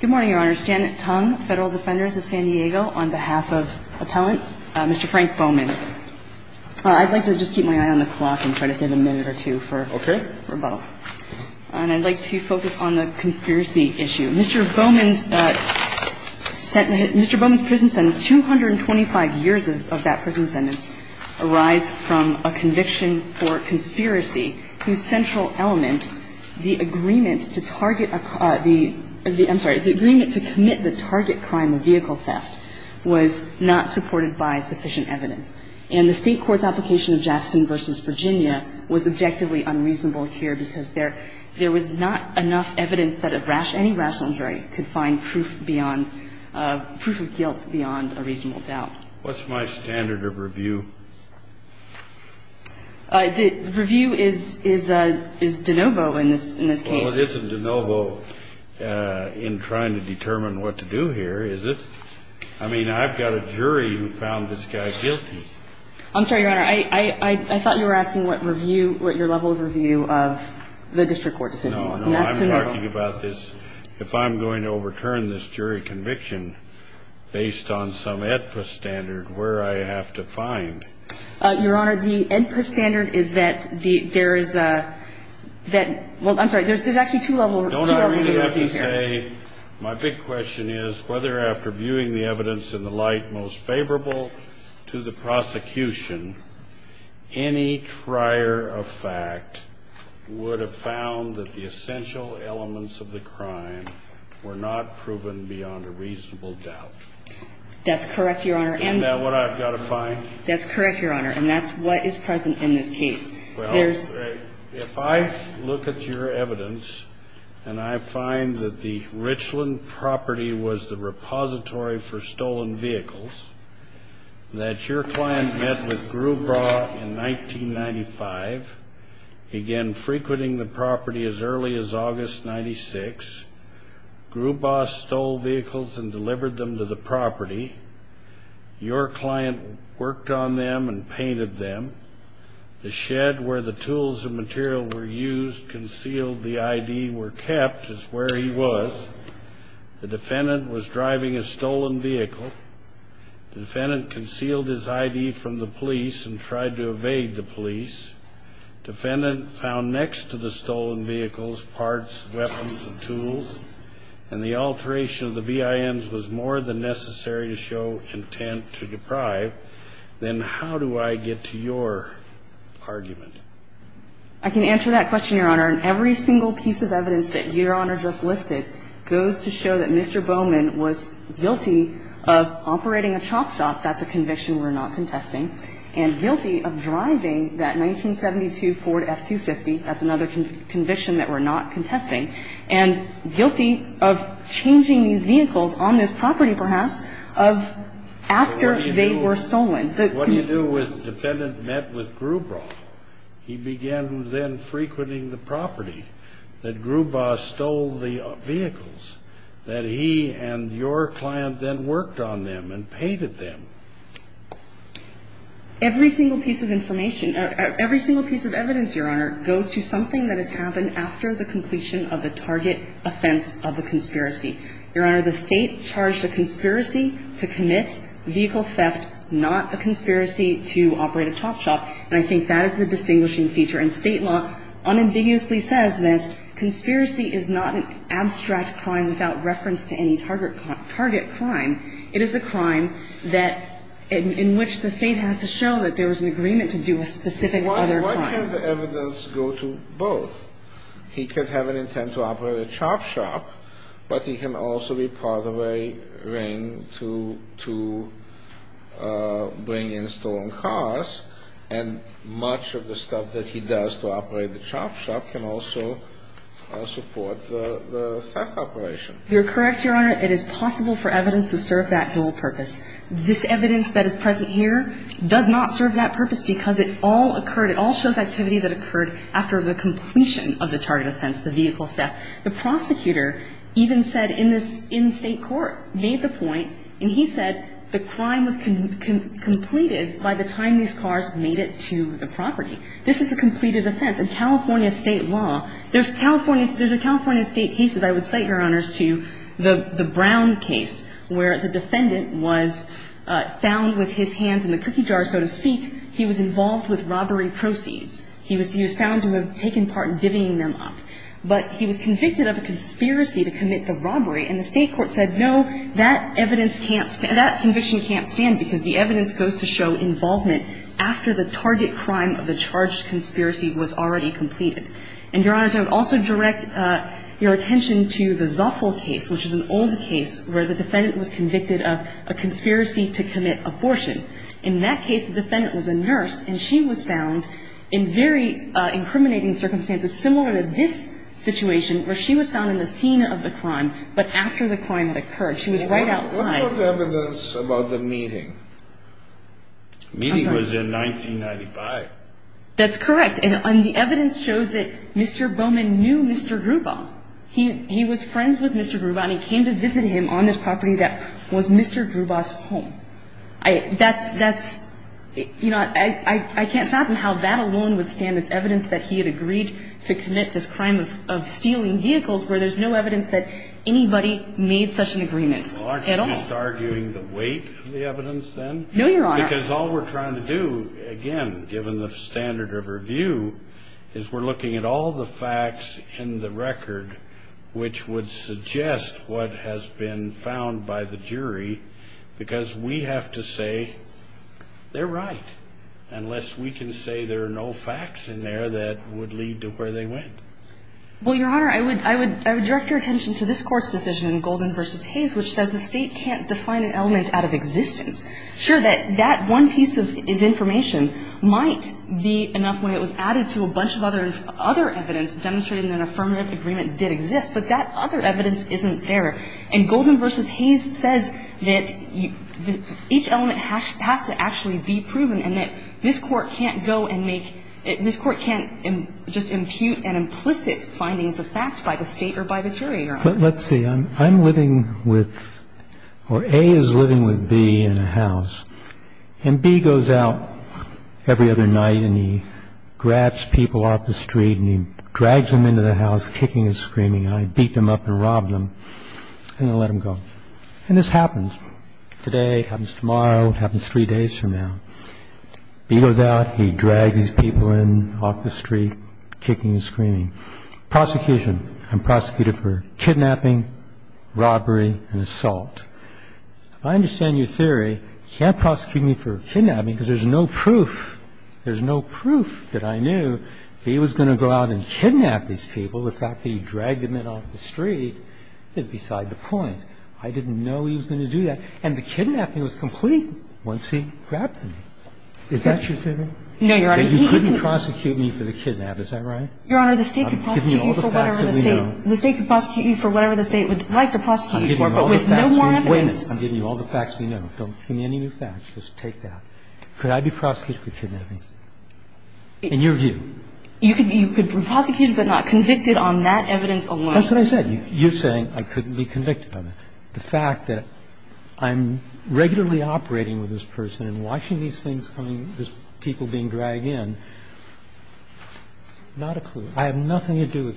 Good morning, Your Honors. Janet Tong, Federal Defenders of San Diego, on behalf of Appellant Mr. Frank Bowman. I'd like to just keep my eye on the clock and try to save a minute or two for rebuttal. And I'd like to focus on the conspiracy issue. Mr. Bowman's prison sentence, 225 years of that prison sentence, arises from a conviction for conspiracy whose central element, the agreement to target a car, the, I'm sorry, the agreement to commit the target crime of vehicle theft, was not supported by sufficient evidence. And the State court's application of Jackson v. Virginia was objectively unreasonable here because there was not enough evidence that a rash, any rational injury could find proof beyond, proof of guilt beyond a reasonable doubt. What's my standard of review? The review is de novo in this case. Well, it isn't de novo in trying to determine what to do here, is it? I mean, I've got a jury who found this guy guilty. I'm sorry, Your Honor. I thought you were asking what review, what your level of review of the district court decision is. No, no. I'm talking about this, if I'm going to overturn this jury conviction based on some AEDPA standard, where I have to find. Your Honor, the AEDPA standard is that there is a, that, well, I'm sorry, there's actually two levels of review here. Don't I really have to say, my big question is whether after viewing the evidence in the light most favorable to the prosecution, any trier of fact would have found that the essential elements of the crime were not proven beyond a reasonable doubt. That's correct, Your Honor. Isn't that what I've got to find? That's correct, Your Honor. And that's what is present in this case. Well, if I look at your evidence and I find that the Richland property was the repository for stolen vehicles, that your client met with Grubbaugh in 1995, again frequenting the property as early as August 96, Grubbaugh stole vehicles and delivered them to the property. Your client worked on them and painted them. The shed where the tools and material were used concealed the I.D. were kept is where he was. The defendant was driving a stolen vehicle. The defendant concealed his I.D. from the police and tried to evade the police. The defendant found next to the stolen vehicles parts, weapons, and tools. And the alteration of the V.I.N.s was more than necessary to show intent to deprive. Then how do I get to your argument? I can answer that question, Your Honor. Every single piece of evidence that Your Honor just listed goes to show that Mr. Bowman was guilty of operating a chop shop. That's a conviction we're not contesting. And guilty of driving that 1972 Ford F-250. That's another conviction that we're not contesting. And guilty of changing these vehicles on this property, perhaps, after they were stolen. What do you do when the defendant met with Grubbaugh? He began then frequenting the property that Grubbaugh stole the vehicles that he and your client then worked on them and painted them. Every single piece of information, every single piece of evidence, Your Honor, goes to something that has happened after the completion of the target offense of a conspiracy. Your Honor, the State charged a conspiracy to commit vehicle theft, not a conspiracy to operate a chop shop. And I think that is the distinguishing feature. And State law unambiguously says that conspiracy is not an abstract crime without reference to any target crime. It is a crime that in which the State has to show that there was an agreement to do a specific other crime. Why can't the evidence go to both? He could have an intent to operate a chop shop, but he can also be part of a ring to bring in stolen cars. And much of the stuff that he does to operate the chop shop can also support the theft operation. You're correct, Your Honor. It is possible for evidence to serve that dual purpose. This evidence that is present here does not serve that purpose because it all occurred, it all shows activity that occurred after the completion of the target offense, the vehicle theft. The prosecutor even said in this in-State court, made the point, and he said the crime was completed by the time these cars made it to the property. This is a completed offense. In California State law, there's California State cases, I would cite, Your Honors, to the Brown case where the defendant was found with his hands in the cookie jar, so to speak. He was involved with robbery proceeds. He was found to have taken part in divvying them up. But he was convicted of a conspiracy to commit the robbery. And the State court said, no, that evidence can't stand, that conviction can't stand because the evidence goes to show involvement after the target crime of the charged conspiracy was already completed. And, Your Honors, I would also direct your attention to the Zoffel case, which is an old case where the defendant was convicted of a conspiracy to commit abortion. In that case, the defendant was a nurse, and she was found in very incriminating circumstances, similar to this situation, where she was found in the scene of the crime, but after the crime had occurred. She was right outside. What about the evidence about the meeting? Meeting was in 1995. That's correct. And the evidence shows that Mr. Bowman knew Mr. Grubaugh. He was friends with Mr. Grubaugh, and he came to visit him on this property that was Mr. Grubaugh's home. That's, you know, I can't fathom how that alone would stand as evidence that he had agreed to commit this crime of stealing vehicles where there's no evidence that anybody made such an agreement at all. Well, aren't you just arguing the weight of the evidence then? No, Your Honor. Because all we're trying to do, again, given the standard of review, is we're looking at all the facts in the record which would suggest what has been found by the jury, because we have to say they're right, unless we can say there are no facts in there that would lead to where they went. Well, Your Honor, I would direct your attention to this Court's decision in Golden v. Hayes, which says the State can't define an element out of existence. Sure, that one piece of information might be enough when it was added to a bunch of other evidence demonstrating that an affirmative agreement did exist, but that other evidence isn't there. And Golden v. Hayes says that each element has to actually be proven and that this Court can't go and make — this Court can't just impute an implicit finding as a fact by the State or by the jury, Your Honor. Let's see. I'm living with — or A is living with B in a house, and B goes out every other night and he grabs people off the street and he drags them into the house, kicking and screaming. And I beat them up and robbed them, and I let them go. And this happens today, happens tomorrow, happens three days from now. B goes out. He drags these people in off the street, kicking and screaming. Prosecution. I'm prosecuted for kidnapping, robbery, and assault. I understand your theory. You can't prosecute me for kidnapping because there's no proof. There's no proof that I knew he was going to go out and kidnap these people. The fact that he dragged them in off the street is beside the point. I didn't know he was going to do that. And the kidnapping was complete once he grabbed them. Is that your theory? No, Your Honor. That you couldn't prosecute me for the kidnap. Is that right? Your Honor, the State could prosecute you for whatever the State would like to prosecute you for, but with no more evidence. I'm giving you all the facts we know. Don't give me any new facts. Just take that. Could I be prosecuted for kidnapping? In your view. You could be prosecuted, but not convicted on that evidence alone. That's what I said. You're saying I couldn't be convicted of it. The fact that I'm regularly operating with this person and watching these things coming to light, I can't be found guilty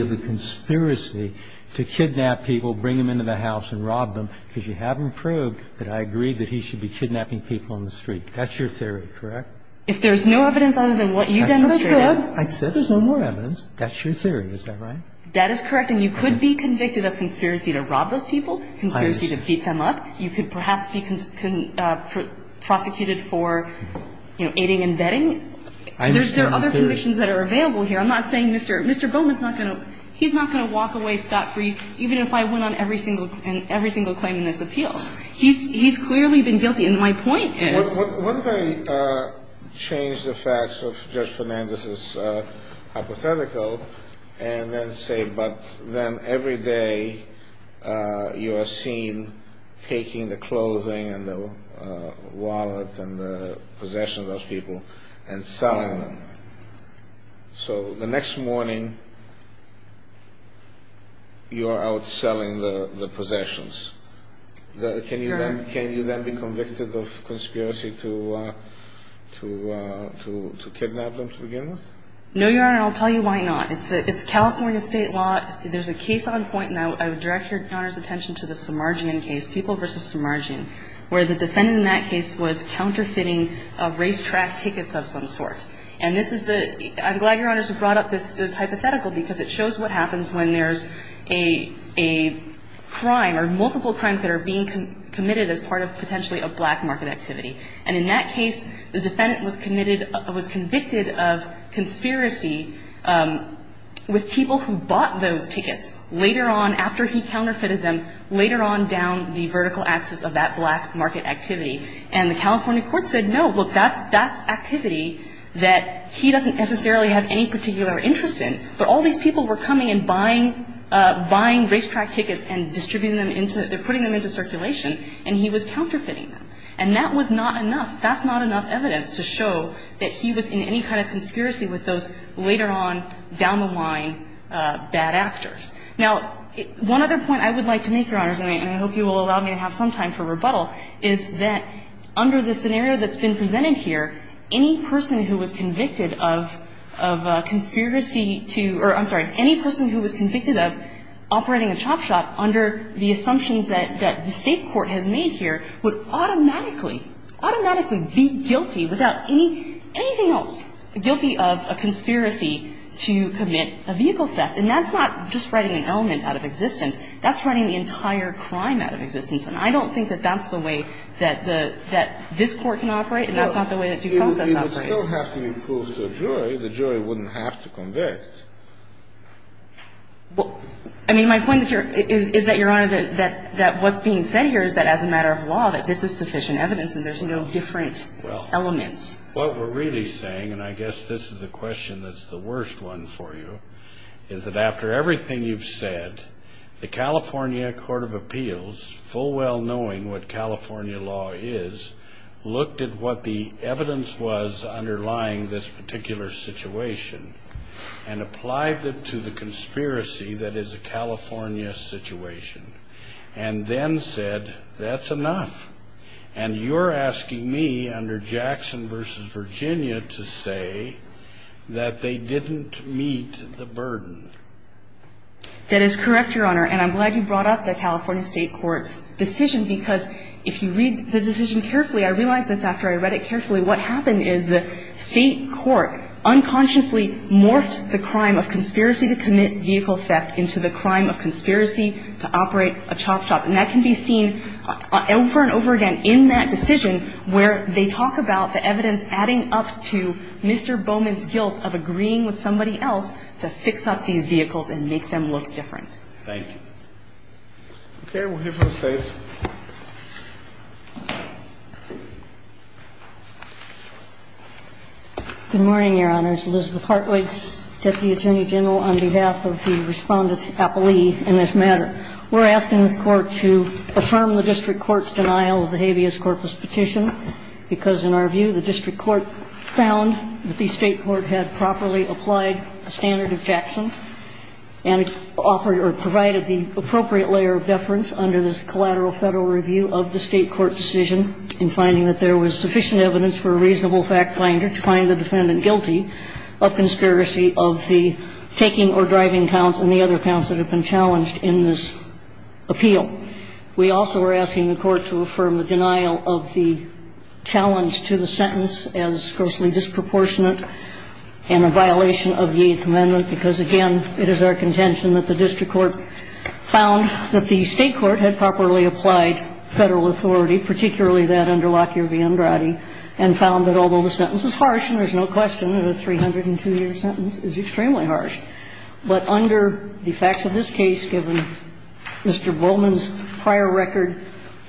of the conspiracy to kidnap people, bring them into the house and rob them, because you haven't proved that I agreed that he should be kidnapping people on the street. That's your theory, correct? If there's no evidence other than what you demonstrated. I said there's no more evidence. Is that right? Yes, Your Honor. That is correct. And you could be convicted of conspiracy to rob those people, conspiracy to beat them up. You could perhaps be prosecuted for, you know, aiding and abetting. I understand. There are other convictions that are available here. I'm not saying Mr. Bowman is not going to walk away scot-free, even if I went on every single claim in this appeal. He's clearly been guilty. And my point is. What if I change the facts of Judge Fernandez's hypothetical and then say, but then every day you are seen taking the clothing and the wallet and the possessions of those people and selling them. So the next morning you are out selling the possessions. Can you then be convicted of conspiracy to kidnap them to begin with? No, Your Honor. I'll tell you why not. It's California state law. There's a case on point now. I would direct Your Honor's attention to the Samargin case, People v. Samargin, where the defendant in that case was counterfeiting racetrack tickets of some sort. And this is the. I'm glad Your Honor has brought up this hypothetical because it shows what happens when there's a crime or multiple crimes that are being committed as part of potentially a black market activity. And in that case, the defendant was committed, was convicted of conspiracy with people who bought those tickets later on after he counterfeited them, later on down the vertical axis of that black market activity. And the California court said, no, look, that's activity that he doesn't necessarily have any particular interest in. But all these people were coming and buying, buying racetrack tickets and distributing them into, putting them into circulation, and he was counterfeiting them. And that was not enough. That's not enough evidence to show that he was in any kind of conspiracy with those later on down the line bad actors. Now, one other point I would like to make, Your Honors, and I hope you will allow me to have some time for rebuttal, is that under the scenario that's been presented here, any person who was convicted of conspiracy to or, I'm sorry, any person who was convicted of operating a chop shop under the assumptions that the State court has made here would automatically, automatically be guilty without anything else, guilty of a conspiracy to commit a vehicle theft. And that's not just writing an element out of existence. That's writing the entire crime out of existence. And I don't think that that's the way that the, that this Court can operate and that's not the way that due process operates. Well, if you would still have to prove to a jury, the jury wouldn't have to convict. Well, I mean, my point is that, Your Honor, that what's being said here is that as a matter of law, that this is sufficient evidence and there's no different elements. Well, what we're really saying, and I guess this is the question that's the worst one for you, is that after everything you've said, the California Court of Appeals, full well knowing what California law is, looked at what the evidence was underlying this particular situation and applied it to the conspiracy that is a California situation and then said, that's enough. And you're asking me under Jackson v. Virginia to say that they didn't meet the burden. That is correct, Your Honor. And I'm glad you brought up the California state court's decision, because if you read the decision carefully, I realized this after I read it carefully, what happened is the state court unconsciously morphed the crime of conspiracy to commit vehicle theft into the crime of conspiracy to operate a chop shop. And that can be seen over and over again in that decision where they talk about the evidence adding up to Mr. Bowman's guilt of agreeing with somebody else to fix up these vehicles and make them look different. Thank you. Okay. We'll hear from the State. Good morning, Your Honors. Elizabeth Hartwig, Deputy Attorney General, on behalf of the Respondent's office, I would like to affirm the district court's denial of the habeas corpus petition, because in our view, the district court found that the state court had properly applied the standard of Jackson and offered or provided the appropriate layer of deference under this collateral Federal review of the state court decision in finding that there was sufficient evidence for a reasonable fact finder to find the defendant guilty of conspiracy of the taking or driving counts and the other counts that have been challenged in this appeal. We also are asking the court to affirm the denial of the challenge to the sentence as grossly disproportionate and a violation of the Eighth Amendment, because, again, it is our contention that the district court found that the state court had properly applied Federal authority, particularly that under Lockyer v. Andrade, and found that although the sentence was harsh, and there's no question that a 302-year sentence is extremely harsh, but under the facts of this case, given Mr. Bowman's prior record,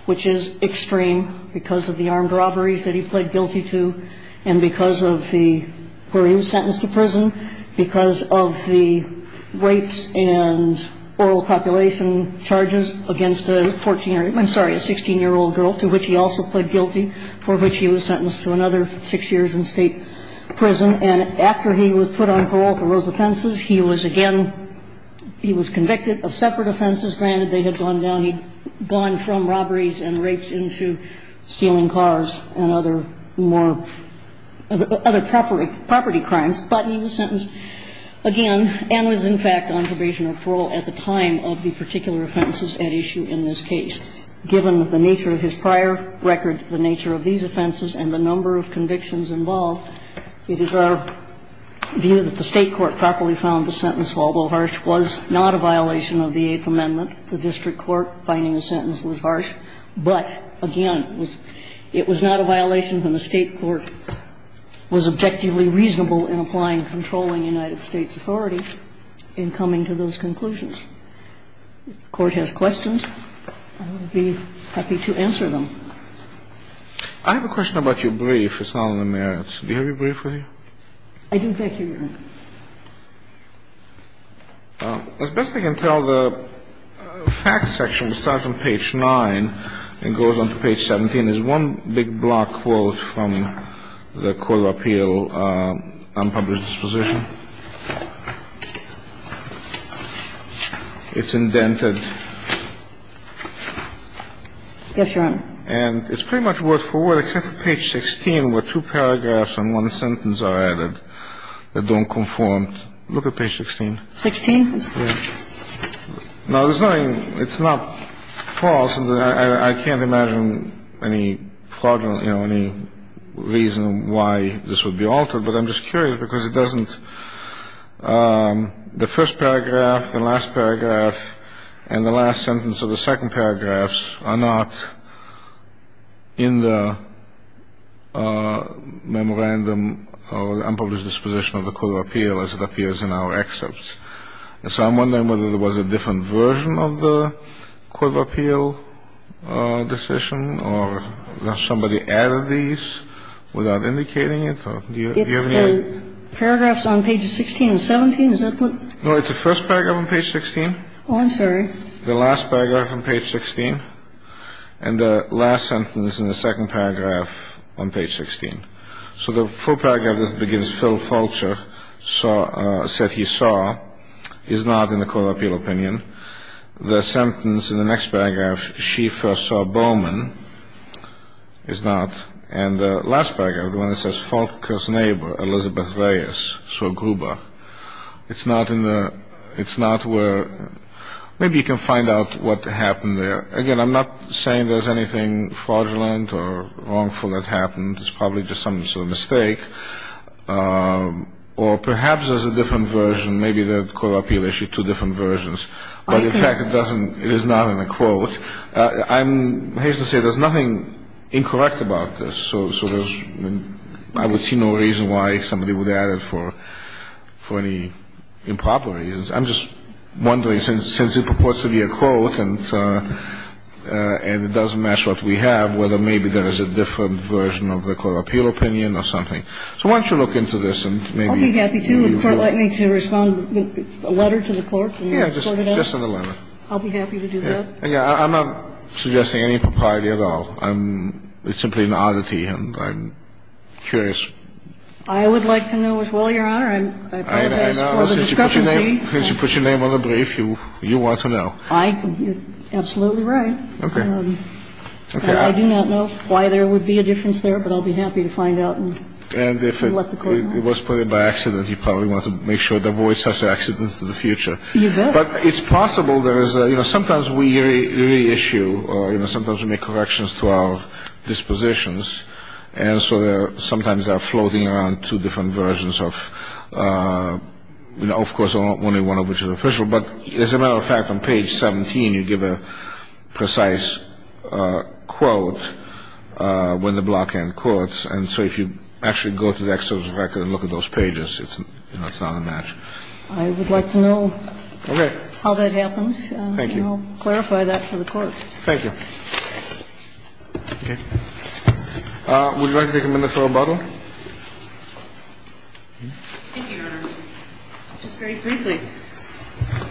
which is extreme because of the armed robberies that he pled guilty to and because of the rape sentence to prison, because of the rapes and oral population charges against a 14-year-old – I'm sorry, a 16-year-old girl to which he also pled guilty, for which he was sentenced to another six years in state prison, and after he was put on parole for those offenses, he was again – he was convicted of separate offenses. Granted, they had gone down – he'd gone from robberies and rapes into stealing cars and other more – other property crimes, but he was sentenced again and was, in fact, on probation or parole at the time of the particular offenses at issue in this case. Given the nature of his prior record, the nature of these offenses, and the number of convictions involved, it is our view that the State court properly found the sentence, although harsh, was not a violation of the Eighth Amendment. The district court finding the sentence was harsh, but again, it was not a violation to supervisory arbitration by the administrative commission when the State court was objectively reasonable in applying control on the United States' authority in coming to those conclusions. If the court has questions, I will be happy to answer them. I have a question about your brief. It's not on the merits. Do you have your brief with you? I do, thank you, Your Honor. As best I can tell, the facts section starts on page 9 and goes on to page 17. There's one big block quote from the Court of Appeal unpublished disposition. It's indented. Yes, Your Honor. And it's pretty much word for word except for page 16 where two paragraphs and one sentence are added that don't conform. Look at page 16. 16? Yes. Now, there's nothing – it's not false. I can't imagine any fraudulent, you know, any reason why this would be altered. But I'm just curious because it doesn't – the first paragraph, the last paragraph, and the last sentence of the second paragraphs are not in the memorandum or the unpublished disposition of the Court of Appeal as it appears in our excerpts. So I'm wondering whether there was a different version of the Court of Appeal decision or somebody added these without indicating it or do you have any idea? It's the paragraphs on pages 16 and 17. Is that what? No, it's the first paragraph on page 16. Oh, I'm sorry. The last paragraph on page 16 and the last sentence in the second paragraph on page 16. So the full paragraph that begins Phil Fulcher said he saw is not in the Court of Appeal opinion. The sentence in the next paragraph, she first saw Bowman, is not. And the last paragraph, the one that says Fulcher's neighbor, Elizabeth Reyes, saw Gruber, it's not in the – it's not where – maybe you can find out what happened there. Again, I'm not saying there's anything fraudulent or wrongful that happened. It's probably just some sort of mistake. Or perhaps there's a different version. Maybe the Court of Appeal issued two different versions. But, in fact, it doesn't – it is not in the quote. I'm hasty to say there's nothing incorrect about this. So there's – I would see no reason why somebody would add it for any improper reasons. I'm just wondering, since it purports to be a quote and it doesn't match what we have, whether maybe there is a different version of the Court of Appeal opinion or something. So why don't you look into this and maybe – I'll be happy to. Would the Court like me to respond with a letter to the Court and sort it out? Yes, just a letter. I'll be happy to do that. I'm not suggesting any impropriety at all. I'm – it's simply an oddity and I'm curious. I would like to know as well, Your Honor. I'm – I apologize for the discrepancy. I know. Since you put your name on the brief, you want to know. I – you're absolutely right. Okay. Okay. I do not know why there would be a difference there, but I'll be happy to find out and let the Court know. And if it was put in by accident, you probably want to make sure to avoid such accidents in the future. You bet. But it's possible there is a – you know, sometimes we reissue or, you know, sometimes we make corrections to our dispositions. And so there sometimes are floating around two different versions of – you know, of course, only one of which is official. But as a matter of fact, on page 17, you give a precise quote when the blockhand quotes. And so if you actually go to the excerpt of the record and look at those pages, it's not a match. I would like to know how that happened. And I'll clarify that for the Court. Thank you. Okay. Would you like to take a minute for rebuttal? Thank you, Your Honor. Just very briefly.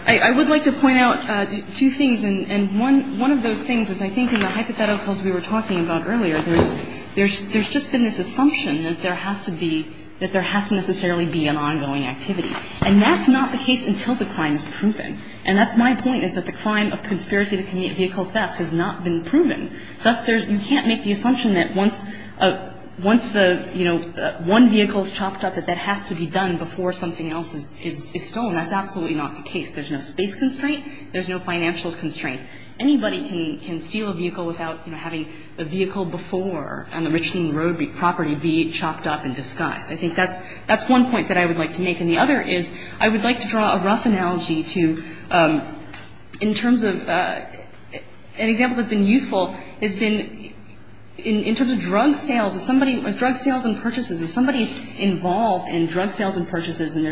I would like to point out two things. And one of those things is I think in the hypotheticals we were talking about earlier, there's just been this assumption that there has to be – that there has to necessarily be an ongoing activity. And that's not the case until the crime is proven. And that's my point, is that the crime of conspiracy to commit vehicle thefts has not been proven. Thus, there's – you can't make the assumption that once the – you know, one vehicle is chopped up, that that has to be done before something else is stolen. That's absolutely not the case. There's no space constraint. There's no financial constraint. Anybody can steal a vehicle without, you know, having the vehicle before on the Richland Road property be chopped up and disguised. I think that's one point that I would like to make. And the other is I would like to draw a rough analogy to – in terms of – an example that's been useful has been in terms of drug sales. If somebody – with drug sales and purchases, if somebody's involved in drug sales and purchases and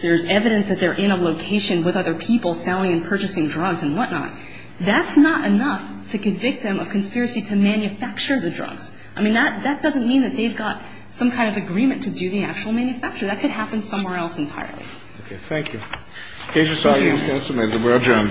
there's evidence that they're in a location with other people selling and purchasing drugs and whatnot, that's not enough to convict them of conspiracy to manufacture the drugs. I mean, that doesn't mean that they've got some kind of agreement to do the actual manufacture. That could happen somewhere else entirely. Okay. Thank you. Case Resolved. Thank you. We're adjourned. All rise. Thank you.